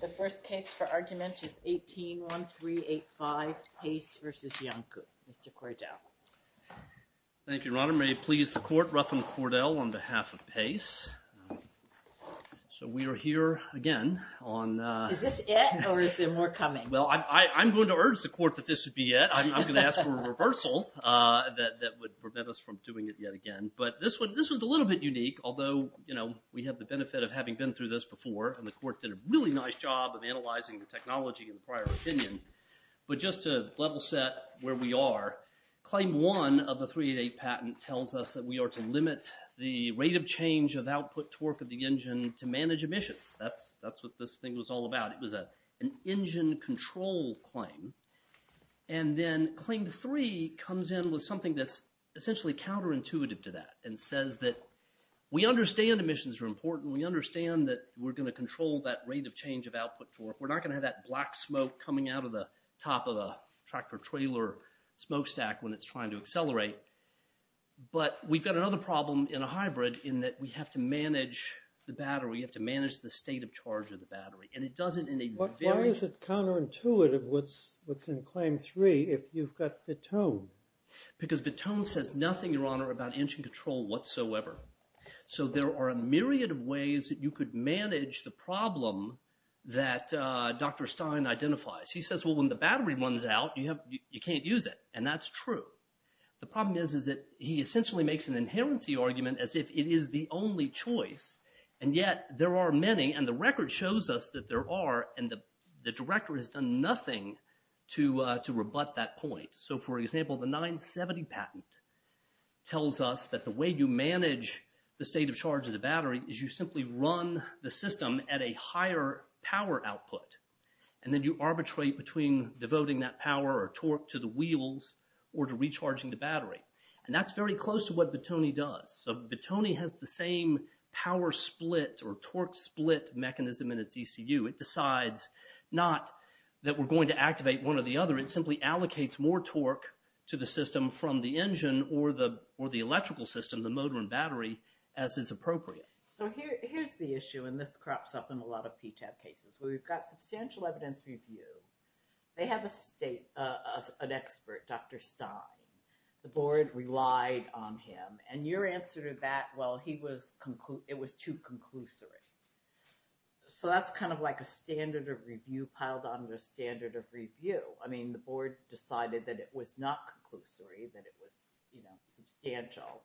The first case for argument is 18-1385 Paice v. Iancu. Mr. Cordell. Thank you, Your Honor. May it please the court, Ruffin Cordell on behalf of Paice. So we are here again on... Is this it or is there more coming? Well, I'm going to urge the court that this should be it. I'm going to ask for a reversal that would prevent us from doing it yet again. This one's a little bit unique, although we have the benefit of having been through this before, and the court did a really nice job of analyzing the technology in the prior opinion. But just to level set where we are, claim one of the 388 patent tells us that we are to limit the rate of change of output torque of the engine to manage emissions. That's what this thing was all about. It was an engine control claim. And then claim three comes in with something that's essentially counterintuitive to that and says that we understand emissions are important. We understand that we're going to control that rate of change of output torque. We're not going to have that black smoke coming out of the top of a tractor-trailer smokestack when it's trying to accelerate. But we've got another problem in a hybrid in that we have to manage the battery. You have to manage the state of charge of the battery. And it doesn't... Why is it nothing, Your Honor, about engine control whatsoever? So there are a myriad of ways that you could manage the problem that Dr. Stein identifies. He says, well, when the battery runs out, you can't use it. And that's true. The problem is that he essentially makes an inherency argument as if it is the only choice. And yet there are many, and the record shows us that there are, and the director has done nothing to rebut that point. So for example, the 970 patent tells us that the way you manage the state of charge of the battery is you simply run the system at a higher power output. And then you arbitrate between devoting that power or torque to the wheels or to recharging the battery. And that's very close to what Vittoni does. So Vittoni has the same power split or torque split mechanism in its ECU. It decides not that we're going to control the engine or the electrical system, the motor and battery, as is appropriate. So here's the issue, and this crops up in a lot of PTAP cases. We've got substantial evidence review. They have an expert, Dr. Stein. The board relied on him. And your answer to that, well, it was too conclusory. So that's kind of like a standard of review piled on the standard of review. I mean, the board decided that it was not conclusory, that it was, you know, substantial.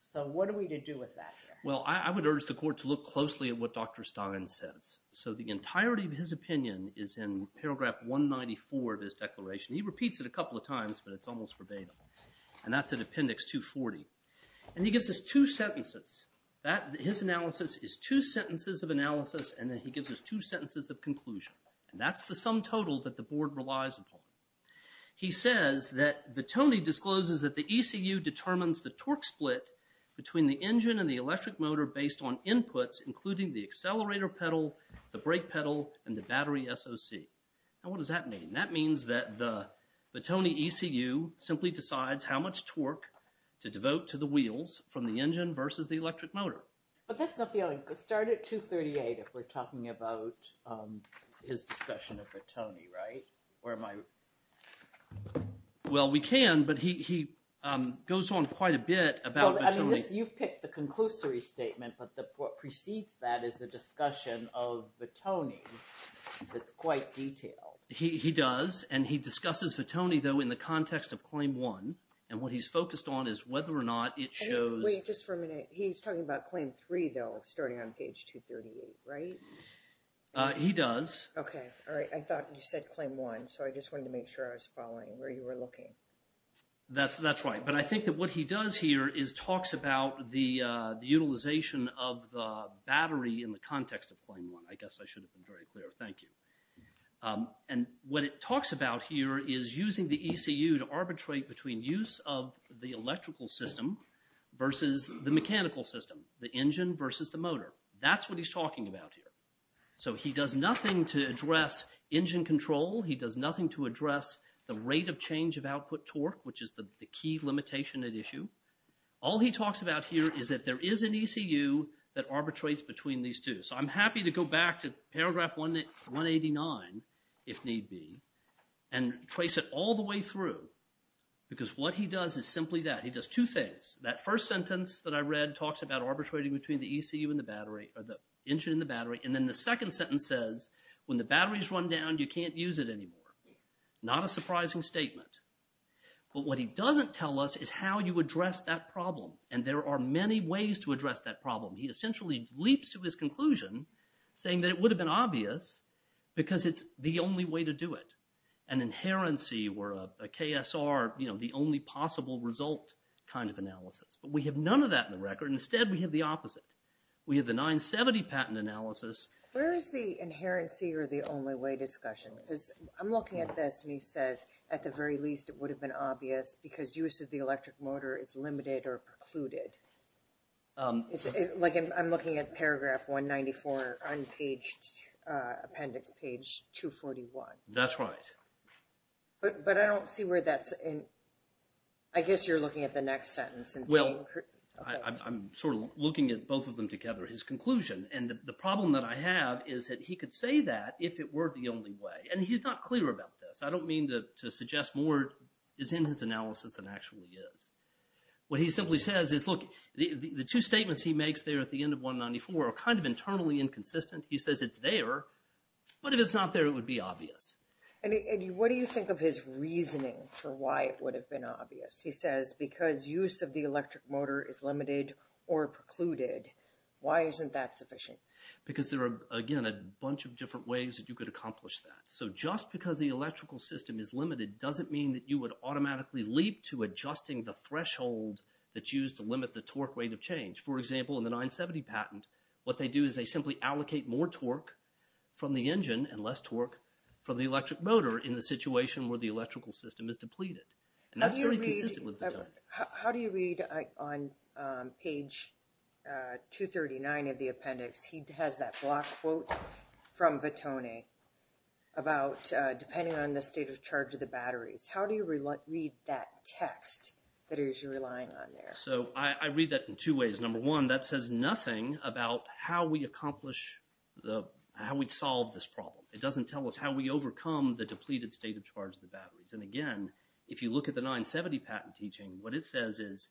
So what are we to do with that? Well, I would urge the court to look closely at what Dr. Stein says. So the entirety of his opinion is in paragraph 194 of his declaration. He repeats it a couple of times, but it's almost verbatim. And that's at appendix 240. And he gives us two sentences. His analysis is two sentences of analysis, and then he gives us two sentences of conclusion. And that's the sum total that the board relies upon. He says that Vittoni discloses that the ECU determines the torque split between the engine and the electric motor based on inputs, including the accelerator pedal, the brake pedal, and the battery SOC. Now, what does that mean? That means that the Vittoni ECU simply decides how much torque to devote to the wheels from the engine versus the electric motor. But that's not the only, start at 238 if we're talking about his discussion of Vittoni, right? Or am I... Well, we can, but he goes on quite a bit about Vittoni. You've picked the conclusory statement, but what precedes that is a discussion of Vittoni that's quite detailed. He does, and he discusses Vittoni, though, in the context of Claim 1. And what he's focused on is whether or not it shows... Wait just for a minute. He's talking about Claim 3, though, starting on page 238, right? He does. Okay, all right. I thought you said Claim 1, so I just wanted to make sure I was following where you were looking. That's right, but I think that what he does here is talks about the utilization of the battery in the context of Claim 1. I guess I should have been very clear. Thank you. And what it talks about here is using the ECU to arbitrate between use of the electrical system versus the mechanical system, the engine versus the motor. That's what he's talking about here. So he does nothing to address engine control. He does nothing to address the rate of change of output torque, which is the key limitation at issue. All he talks about here is that there is an ECU that arbitrates between these two. So I'm through because what he does is simply that. He does two things. That first sentence that I read talks about arbitrating between the ECU and the battery, or the engine and the battery. And then the second sentence says, when the battery is run down, you can't use it anymore. Not a surprising statement. But what he doesn't tell us is how you address that problem. And there are many ways to address that problem. He essentially leaps to his conclusion, saying that it would have been obvious because it's the only way to do it. An inherency or a KSR, you know, the only possible result kind of analysis. But we have none of that in the record. Instead, we have the opposite. We have the 970 patent analysis. Where is the inherency or the only way discussion? Because I'm looking at this and he says, at the very least, it would have been obvious because use of the electric motor is limited or precluded. It's like I'm looking at paragraph 194, unpaged appendix page 241. That's right. But I don't see where that's in. I guess you're looking at the next sentence. Well, I'm sort of looking at both of them together, his conclusion. And the problem that I have is that he could say that if it were the only way. And he's not clear about this. I don't mean to suggest more is in his analysis than actually is. What he simply says is, look, the two statements he makes there at the end of 194 are kind of internally inconsistent. He says it's there. But if it's not there, it would be obvious. And what do you think of his reasoning for why it would have been obvious? He says because use of the electric motor is limited or precluded. Why isn't that sufficient? Because there are, again, a bunch of different ways that you could accomplish that. So just because the electrical system is limited doesn't mean that would automatically leap to adjusting the threshold that's used to limit the torque rate of change. For example, in the 970 patent, what they do is they simply allocate more torque from the engine and less torque from the electric motor in the situation where the electrical system is depleted. And that's very consistent with Vittone. How do you read on page 239 of the appendix? He has that block quote from Vittone about depending on the state of charge of the batteries. How do you read that text that he's relying on there? So I read that in two ways. Number one, that says nothing about how we accomplish the, how we'd solve this problem. It doesn't tell us how we overcome the depleted state of charge of the batteries. And again, if you look at the 970 patent teaching, what it says is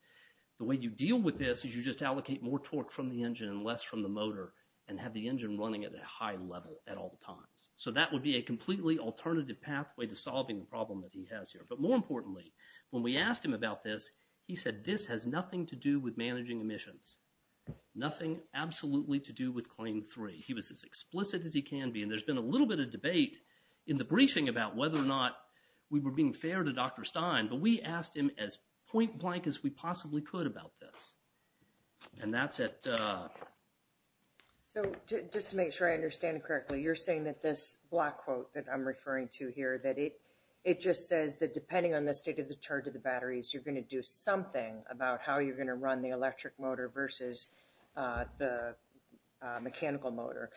the way you deal with this is you just allocate more torque from the engine and less from the motor and have the engine running at a high level at all times. So that would be a completely alternative pathway to solving the problem that he has here. But more importantly, when we asked him about this, he said this has nothing to do with managing emissions. Nothing absolutely to do with Claim 3. He was as explicit as he can be. And there's been a little bit of debate in the briefing about whether or not we were being fair to Dr. Stein, but we asked him as point blank as we possibly could about this. And that's it. So just to make sure I understand correctly, you're saying that this black quote that I'm referring to here, that it it just says that depending on the state of the charge of the batteries, you're going to do something about how you're going to run the electric motor versus the mechanical motor.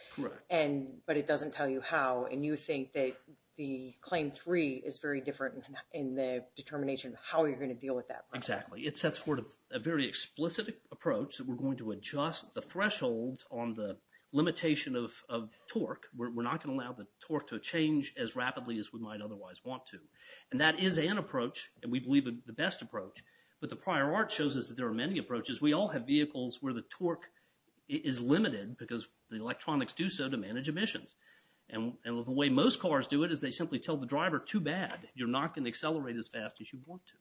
And, but it doesn't tell you how. And you think that the Claim 3 is very different in the determination of how you're going to deal with that. Exactly. It sets forth a very explicit approach that we're going to adjust the thresholds on the limitation of torque. We're not going to allow the torque to change as rapidly as we might otherwise want to. And that is an approach, and we believe in the best approach. But the prior art shows us that there are many approaches. We all have vehicles where the torque is limited because the electronics do so to manage emissions. And the way most cars do it is they simply tell the driver too bad. You're not going to accelerate as fast as you want to.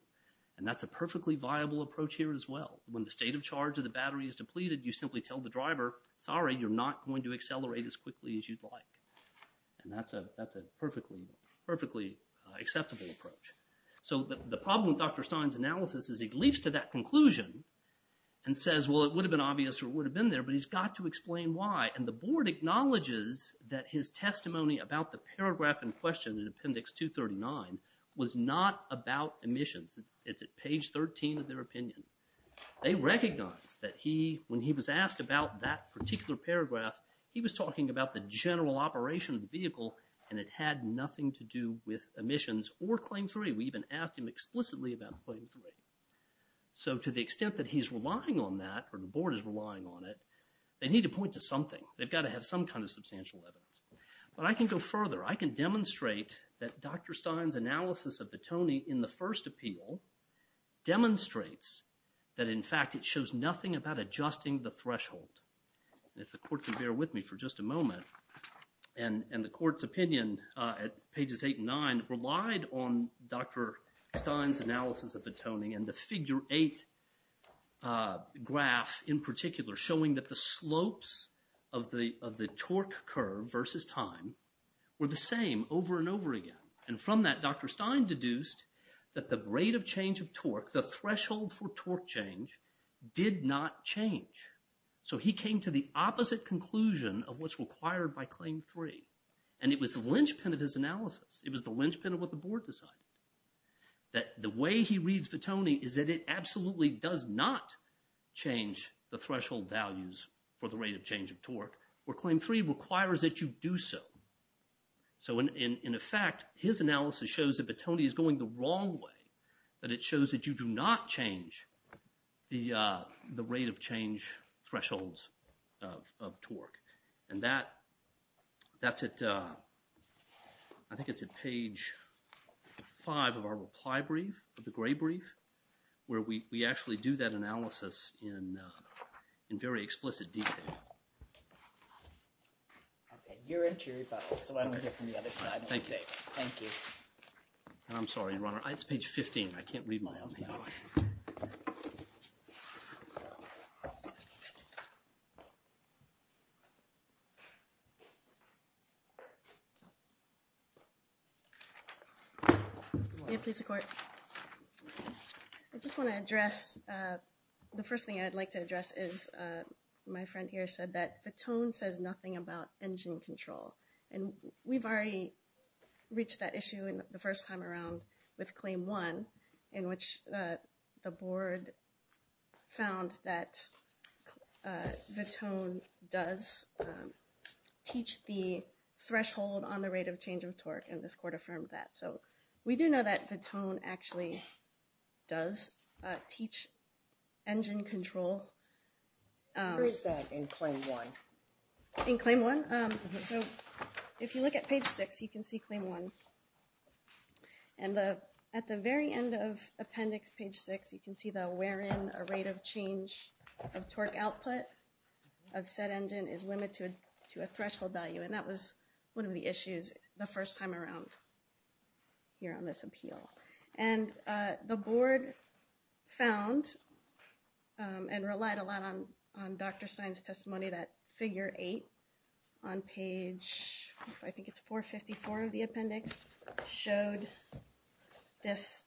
And that's a perfectly viable approach here as well. When the state of charge of the battery is depleted, you simply tell the driver, sorry you're not going to accelerate as quickly as you'd like. And that's a that's a perfectly, perfectly acceptable approach. So the problem with Dr. Stein's analysis is he leaps to that conclusion and says, well it would have been obvious or would have been there, but he's got to explain why. And the Board acknowledges that his testimony about the paragraph in question in Appendix 239 was not about emissions. It's at page 13 of their opinion. They recognize that he, when he was asked about that particular paragraph, he was talking about the general operation of the vehicle and it had nothing to do with emissions or Claim 3. We even asked him explicitly about Claim 3. So to the extent that he's relying on that, or the Board is relying on it, they need to point to something. They've got to have some kind of substantial evidence. But I can go further. I can demonstrate that Dr. Stein's analysis of the toning in the first appeal demonstrates that in fact it shows nothing about adjusting the threshold. If the Court can bear with me for just a moment. And the Court's opinion at pages 8 and 9 relied on Dr. Stein's analysis of the toning and the figure 8 graph in particular showing that the slopes of the of the torque curve versus time were the same over and over again. And from that Dr. Stein deduced that the rate of change of torque, the threshold for torque change, did not change. So he came to the opposite conclusion of what's required by Claim 3. And it was the linchpin of his analysis. It was the linchpin of what the Board decided. That the way he reads the toning is that it absolutely does not change the threshold values for the rate of change of torque where Claim 3 requires that you do so. So in effect his analysis shows that the toning is going the wrong way. That it shows that you do not change the rate of change thresholds of torque. And that's at I think it's at page 5 of our reply brief, of the gray brief, where we actually do that analysis in very explicit detail. Okay you're in Cherry Fossil, so I'm going to get from the other side. Thank you. Thank you. I'm sorry your honor, it's page 15. I can't read my own hand. Okay. Yeah please, the court. I just want to address, the first thing I'd like to address is my friend here said that the tone says nothing about engine control. And we've already reached that issue in the first time around with Claim 1, in which the Board found that the tone does teach the threshold on the rate of change of torque. And this court affirmed that. So we do know that the tone actually does teach engine control. Where is that in Claim 1? In Claim 1? So if you look at page 6, you can see Claim 1. And at the very end of appendix page 6, you can see that wherein a rate of change of torque output of said engine is limited to a threshold value. And that was one of the issues the first time around here on this appeal. And the Board found and relied a lot on Dr. Stein's figure 8 on page, I think it's 454 of the appendix, showed this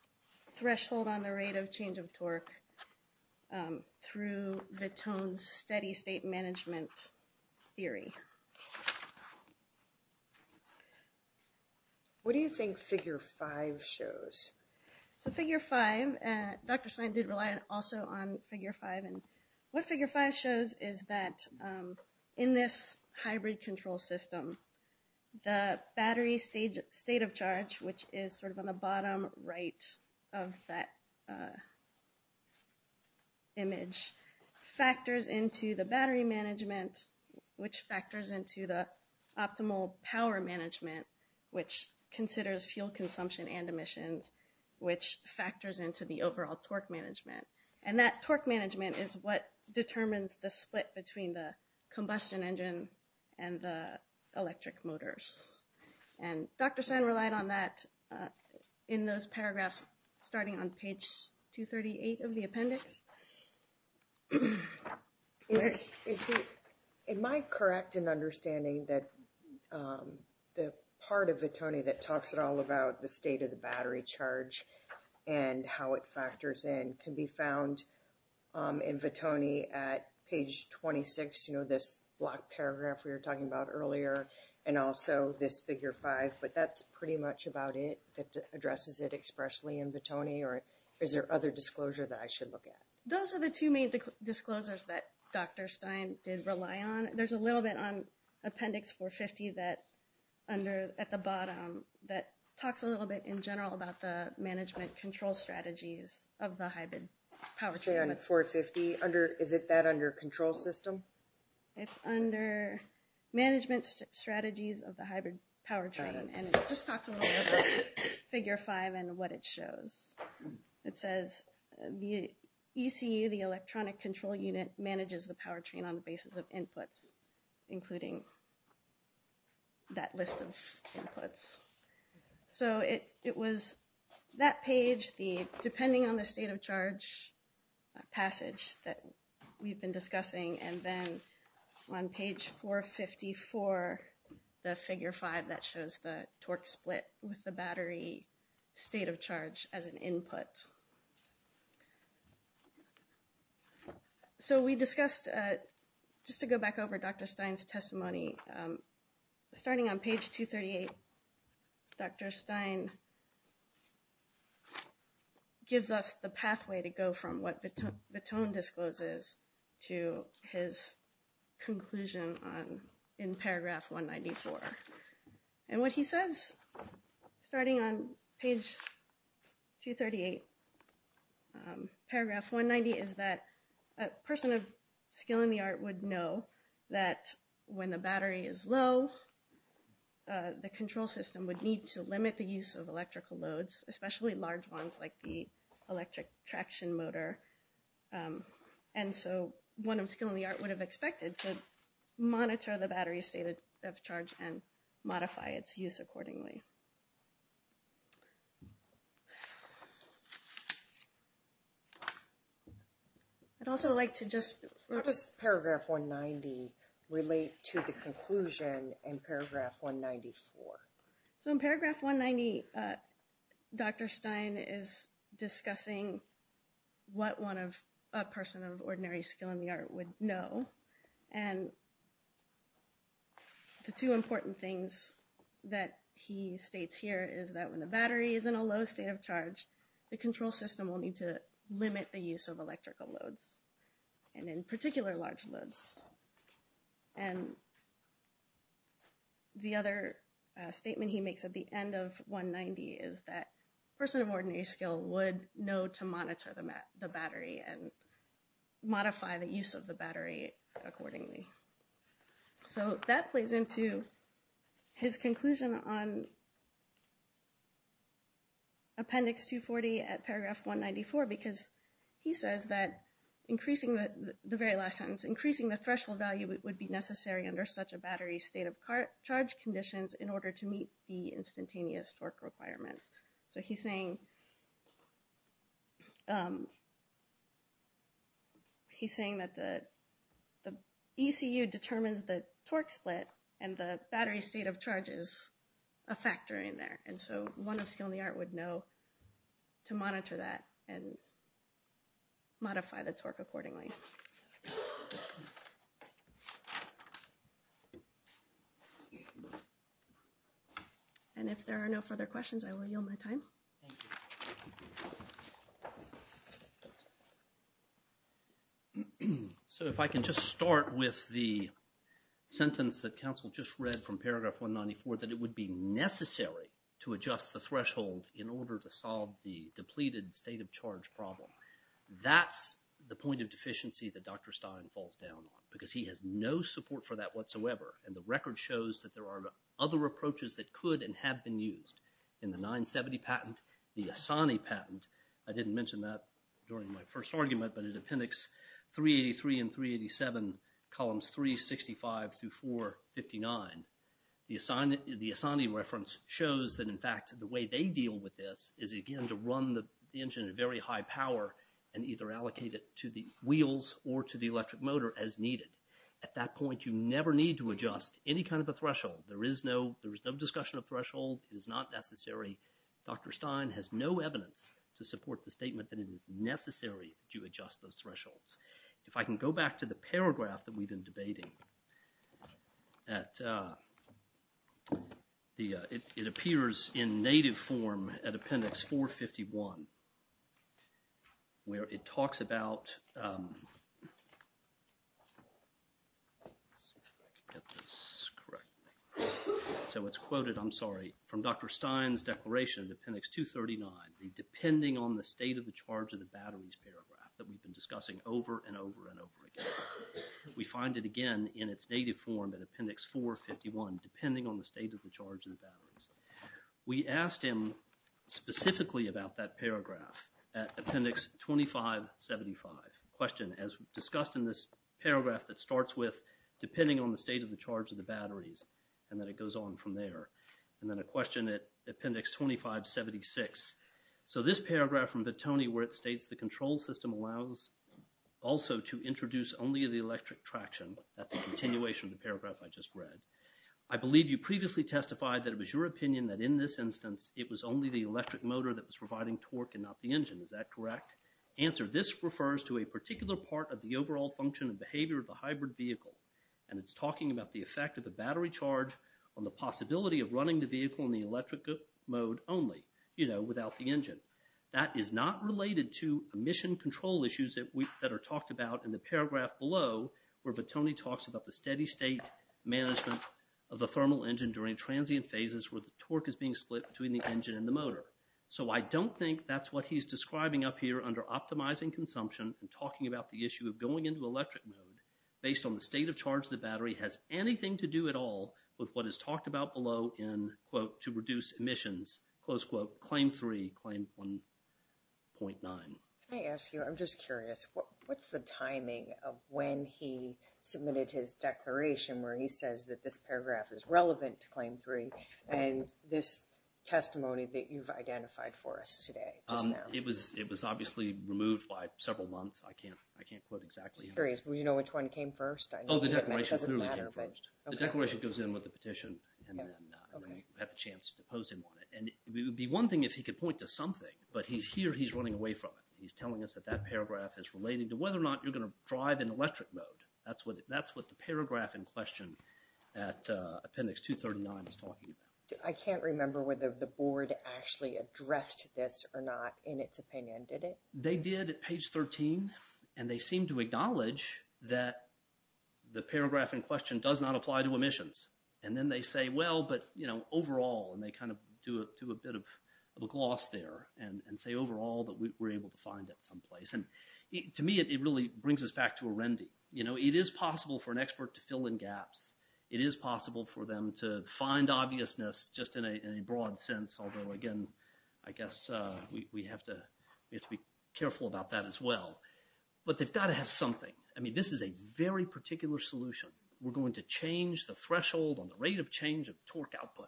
threshold on the rate of change of torque through the tone steady state management theory. What do you think figure 5 shows? So figure 5, Dr. Stein did rely also on figure 5. And figure 5 shows is that in this hybrid control system, the battery state of charge, which is sort of on the bottom right of that image, factors into the battery management, which factors into the optimal power management, which considers fuel consumption and emissions, which factors into the overall torque management. And that torque management is what determines the split between the combustion engine and the electric motors. And Dr. Stein relied on that in those paragraphs starting on page 238 of the appendix. Am I correct in understanding that the part of battery charge and how it factors in can be found in Vittoni at page 26, you know, this block paragraph we were talking about earlier, and also this figure 5. But that's pretty much about it. It addresses it expressly in Vittoni. Or is there other disclosure that I should look at? Those are the two main disclosures that Dr. Stein did rely on. There's a little bit on appendix 450 that under, at the bottom, that talks a little bit in general about the management control strategies of the hybrid powertrain. Say on 450, is it that under control system? It's under management strategies of the hybrid powertrain. And it just talks a little bit about figure 5 and what it shows. It says the ECU, the electronic control unit, manages the powertrain on the basis of inputs, including that list of inputs. So it was that page, the depending on the state of charge passage that we've been discussing, and then on page 454, the figure 5 that shows the back over Dr. Stein's testimony. Starting on page 238, Dr. Stein gives us the pathway to go from what Vittoni discloses to his conclusion in paragraph 194. And what he says, starting on page 238, paragraph 190, is that a person of skill in the art would know that when the battery is low, the control system would need to limit the use of electrical loads, especially large ones like the electric traction motor. And so one of skill in the art would have expected to monitor the battery state of charge and modify its use accordingly. I'd also like to just... How does paragraph 190 relate to the conclusion in paragraph 194? So in paragraph 190, Dr. Stein is discussing what a person of ordinary skill in the art would know. And the two important things that he states here is that when the battery is in a low state of charge, the control system will need to limit the use of electrical loads, and in particular, large loads. And the other statement he makes at the end of 190 is that a person of ordinary skill would know to monitor the battery and modify the use of the battery accordingly. So that plays into his conclusion on appendix 240 at paragraph 194, because he says that increasing the very last sentence, increasing the threshold value would be necessary under such a battery state of charge conditions in order to meet the instantaneous torque requirements. So he's saying that the ECU determines the torque split and the battery state of charge is a factor in there. And so one of skill in the art would know to monitor that and modify the torque accordingly. And if there are no further questions, I will yield my time. So if I can just start with the sentence that counsel just read from paragraph 194, that it would be necessary to adjust the threshold in order to solve the depleted state of charge problem. That's the point of deficiency that Dr. Stein falls down on, because he has no support for that whatsoever. And the record shows that there are other approaches that could and have been used in the 970 patent, the Asani patent. I didn't mention that during my first argument, but in appendix 383 and 387, columns 365 through 459, the Asani reference shows that, in fact, the way they deal with this is, again, to run the engine at very high power and either allocate it to the wheels or to the electric motor as needed. At that point, you never need to adjust any kind of a threshold. There is no discussion of threshold. It is not necessary. Dr. Stein has no evidence to support the statement that it is necessary that you adjust those thresholds. If I can go back to the paragraph that we've been debating, it appears in native form at appendix 451, where it talks about, so it's quoted, I'm sorry, from Dr. Stein's declaration, appendix 239, the depending on the state of the charge of the batteries paragraph that we've been discussing over and over and over again. We find it again in its native form at appendix 451, depending on the state of the charge of the batteries. We asked him specifically about that paragraph at appendix 2575. Question, as discussed in this paragraph that starts with depending on the state of the charge of the batteries, and then it goes on from there, and then a question at appendix 2576. So this paragraph from Vittoni, where it states the control system allows also to introduce only the electric traction. That's a continuation of the paragraph I just read. I believe you previously testified that it was your opinion that in this instance, it was only the electric motor that was providing torque and not the engine. Is that correct? Answer, this refers to a particular part of the overall function and behavior of the hybrid vehicle, and it's talking about the effect of the battery charge on the possibility of running the vehicle in the electric mode only, you know, without the engine. That is not related to emission control issues that are talked about in the paragraph below, where Vittoni talks about the steady state management of the thermal engine during transient phases where the torque is being split between the engine and the motor. So I don't think that's what he's describing up here under optimizing consumption and talking about the issue of going into electric mode based on the state of charge the battery has anything to do at all with what is talked about below in, quote, to reduce emissions, close quote, Claim 3, Claim 1.9. Can I ask you, I'm just curious, what's the timing of when he submitted his declaration where he says that this paragraph is relevant to Claim 3 and this testimony that you've identified for us today? It was obviously removed by several months. I can't The declaration goes in with the petition, and then we had the chance to pose him on it. And it would be one thing if he could point to something, but he's here, he's running away from it. He's telling us that that paragraph is related to whether or not you're going to drive in electric mode. That's what the paragraph in question at appendix 239 is talking about. I can't remember whether the board actually addressed this or not in its opinion, did it? They did at page 13, and they seem to acknowledge that the paragraph in question does not apply to emissions. And then they say, well, but, you know, overall, and they kind of do a bit of a gloss there and say overall that we were able to find that someplace. And to me, it really brings us back to a remedy. You know, it is possible for an expert to fill in gaps. It is possible for them to find obviousness just in a broad sense, although again, I guess we have to be careful about that as well. But they've got to have something. I mean, this is a very particular solution. We're going to change the threshold on the rate of change of torque output.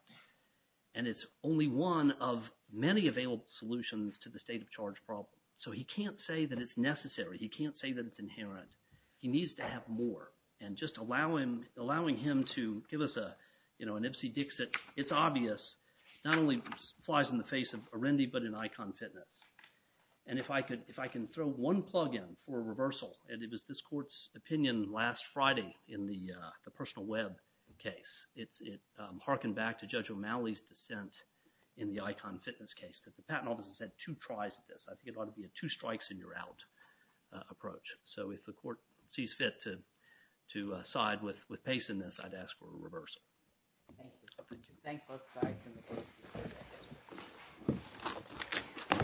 And it's only one of many available solutions to the state of charge problem. So he can't say that it's necessary. He can't say that it's inherent. He needs to have more. And just allowing him to give us a, you know, an Ipsy Dixit, it's obvious, not only flies in the face of Arendi, but in Icon Fitness. And if I could, throw one plug in for a reversal. And it was this court's opinion last Friday in the Personal Web case. It harkened back to Judge O'Malley's dissent in the Icon Fitness case, that the patent offices had two tries at this. I think it ought to be a two strikes and you're out approach. So if the court sees fit to side with Pace in this, I'd ask for a reversal. Thank you. Thank both sides in the case.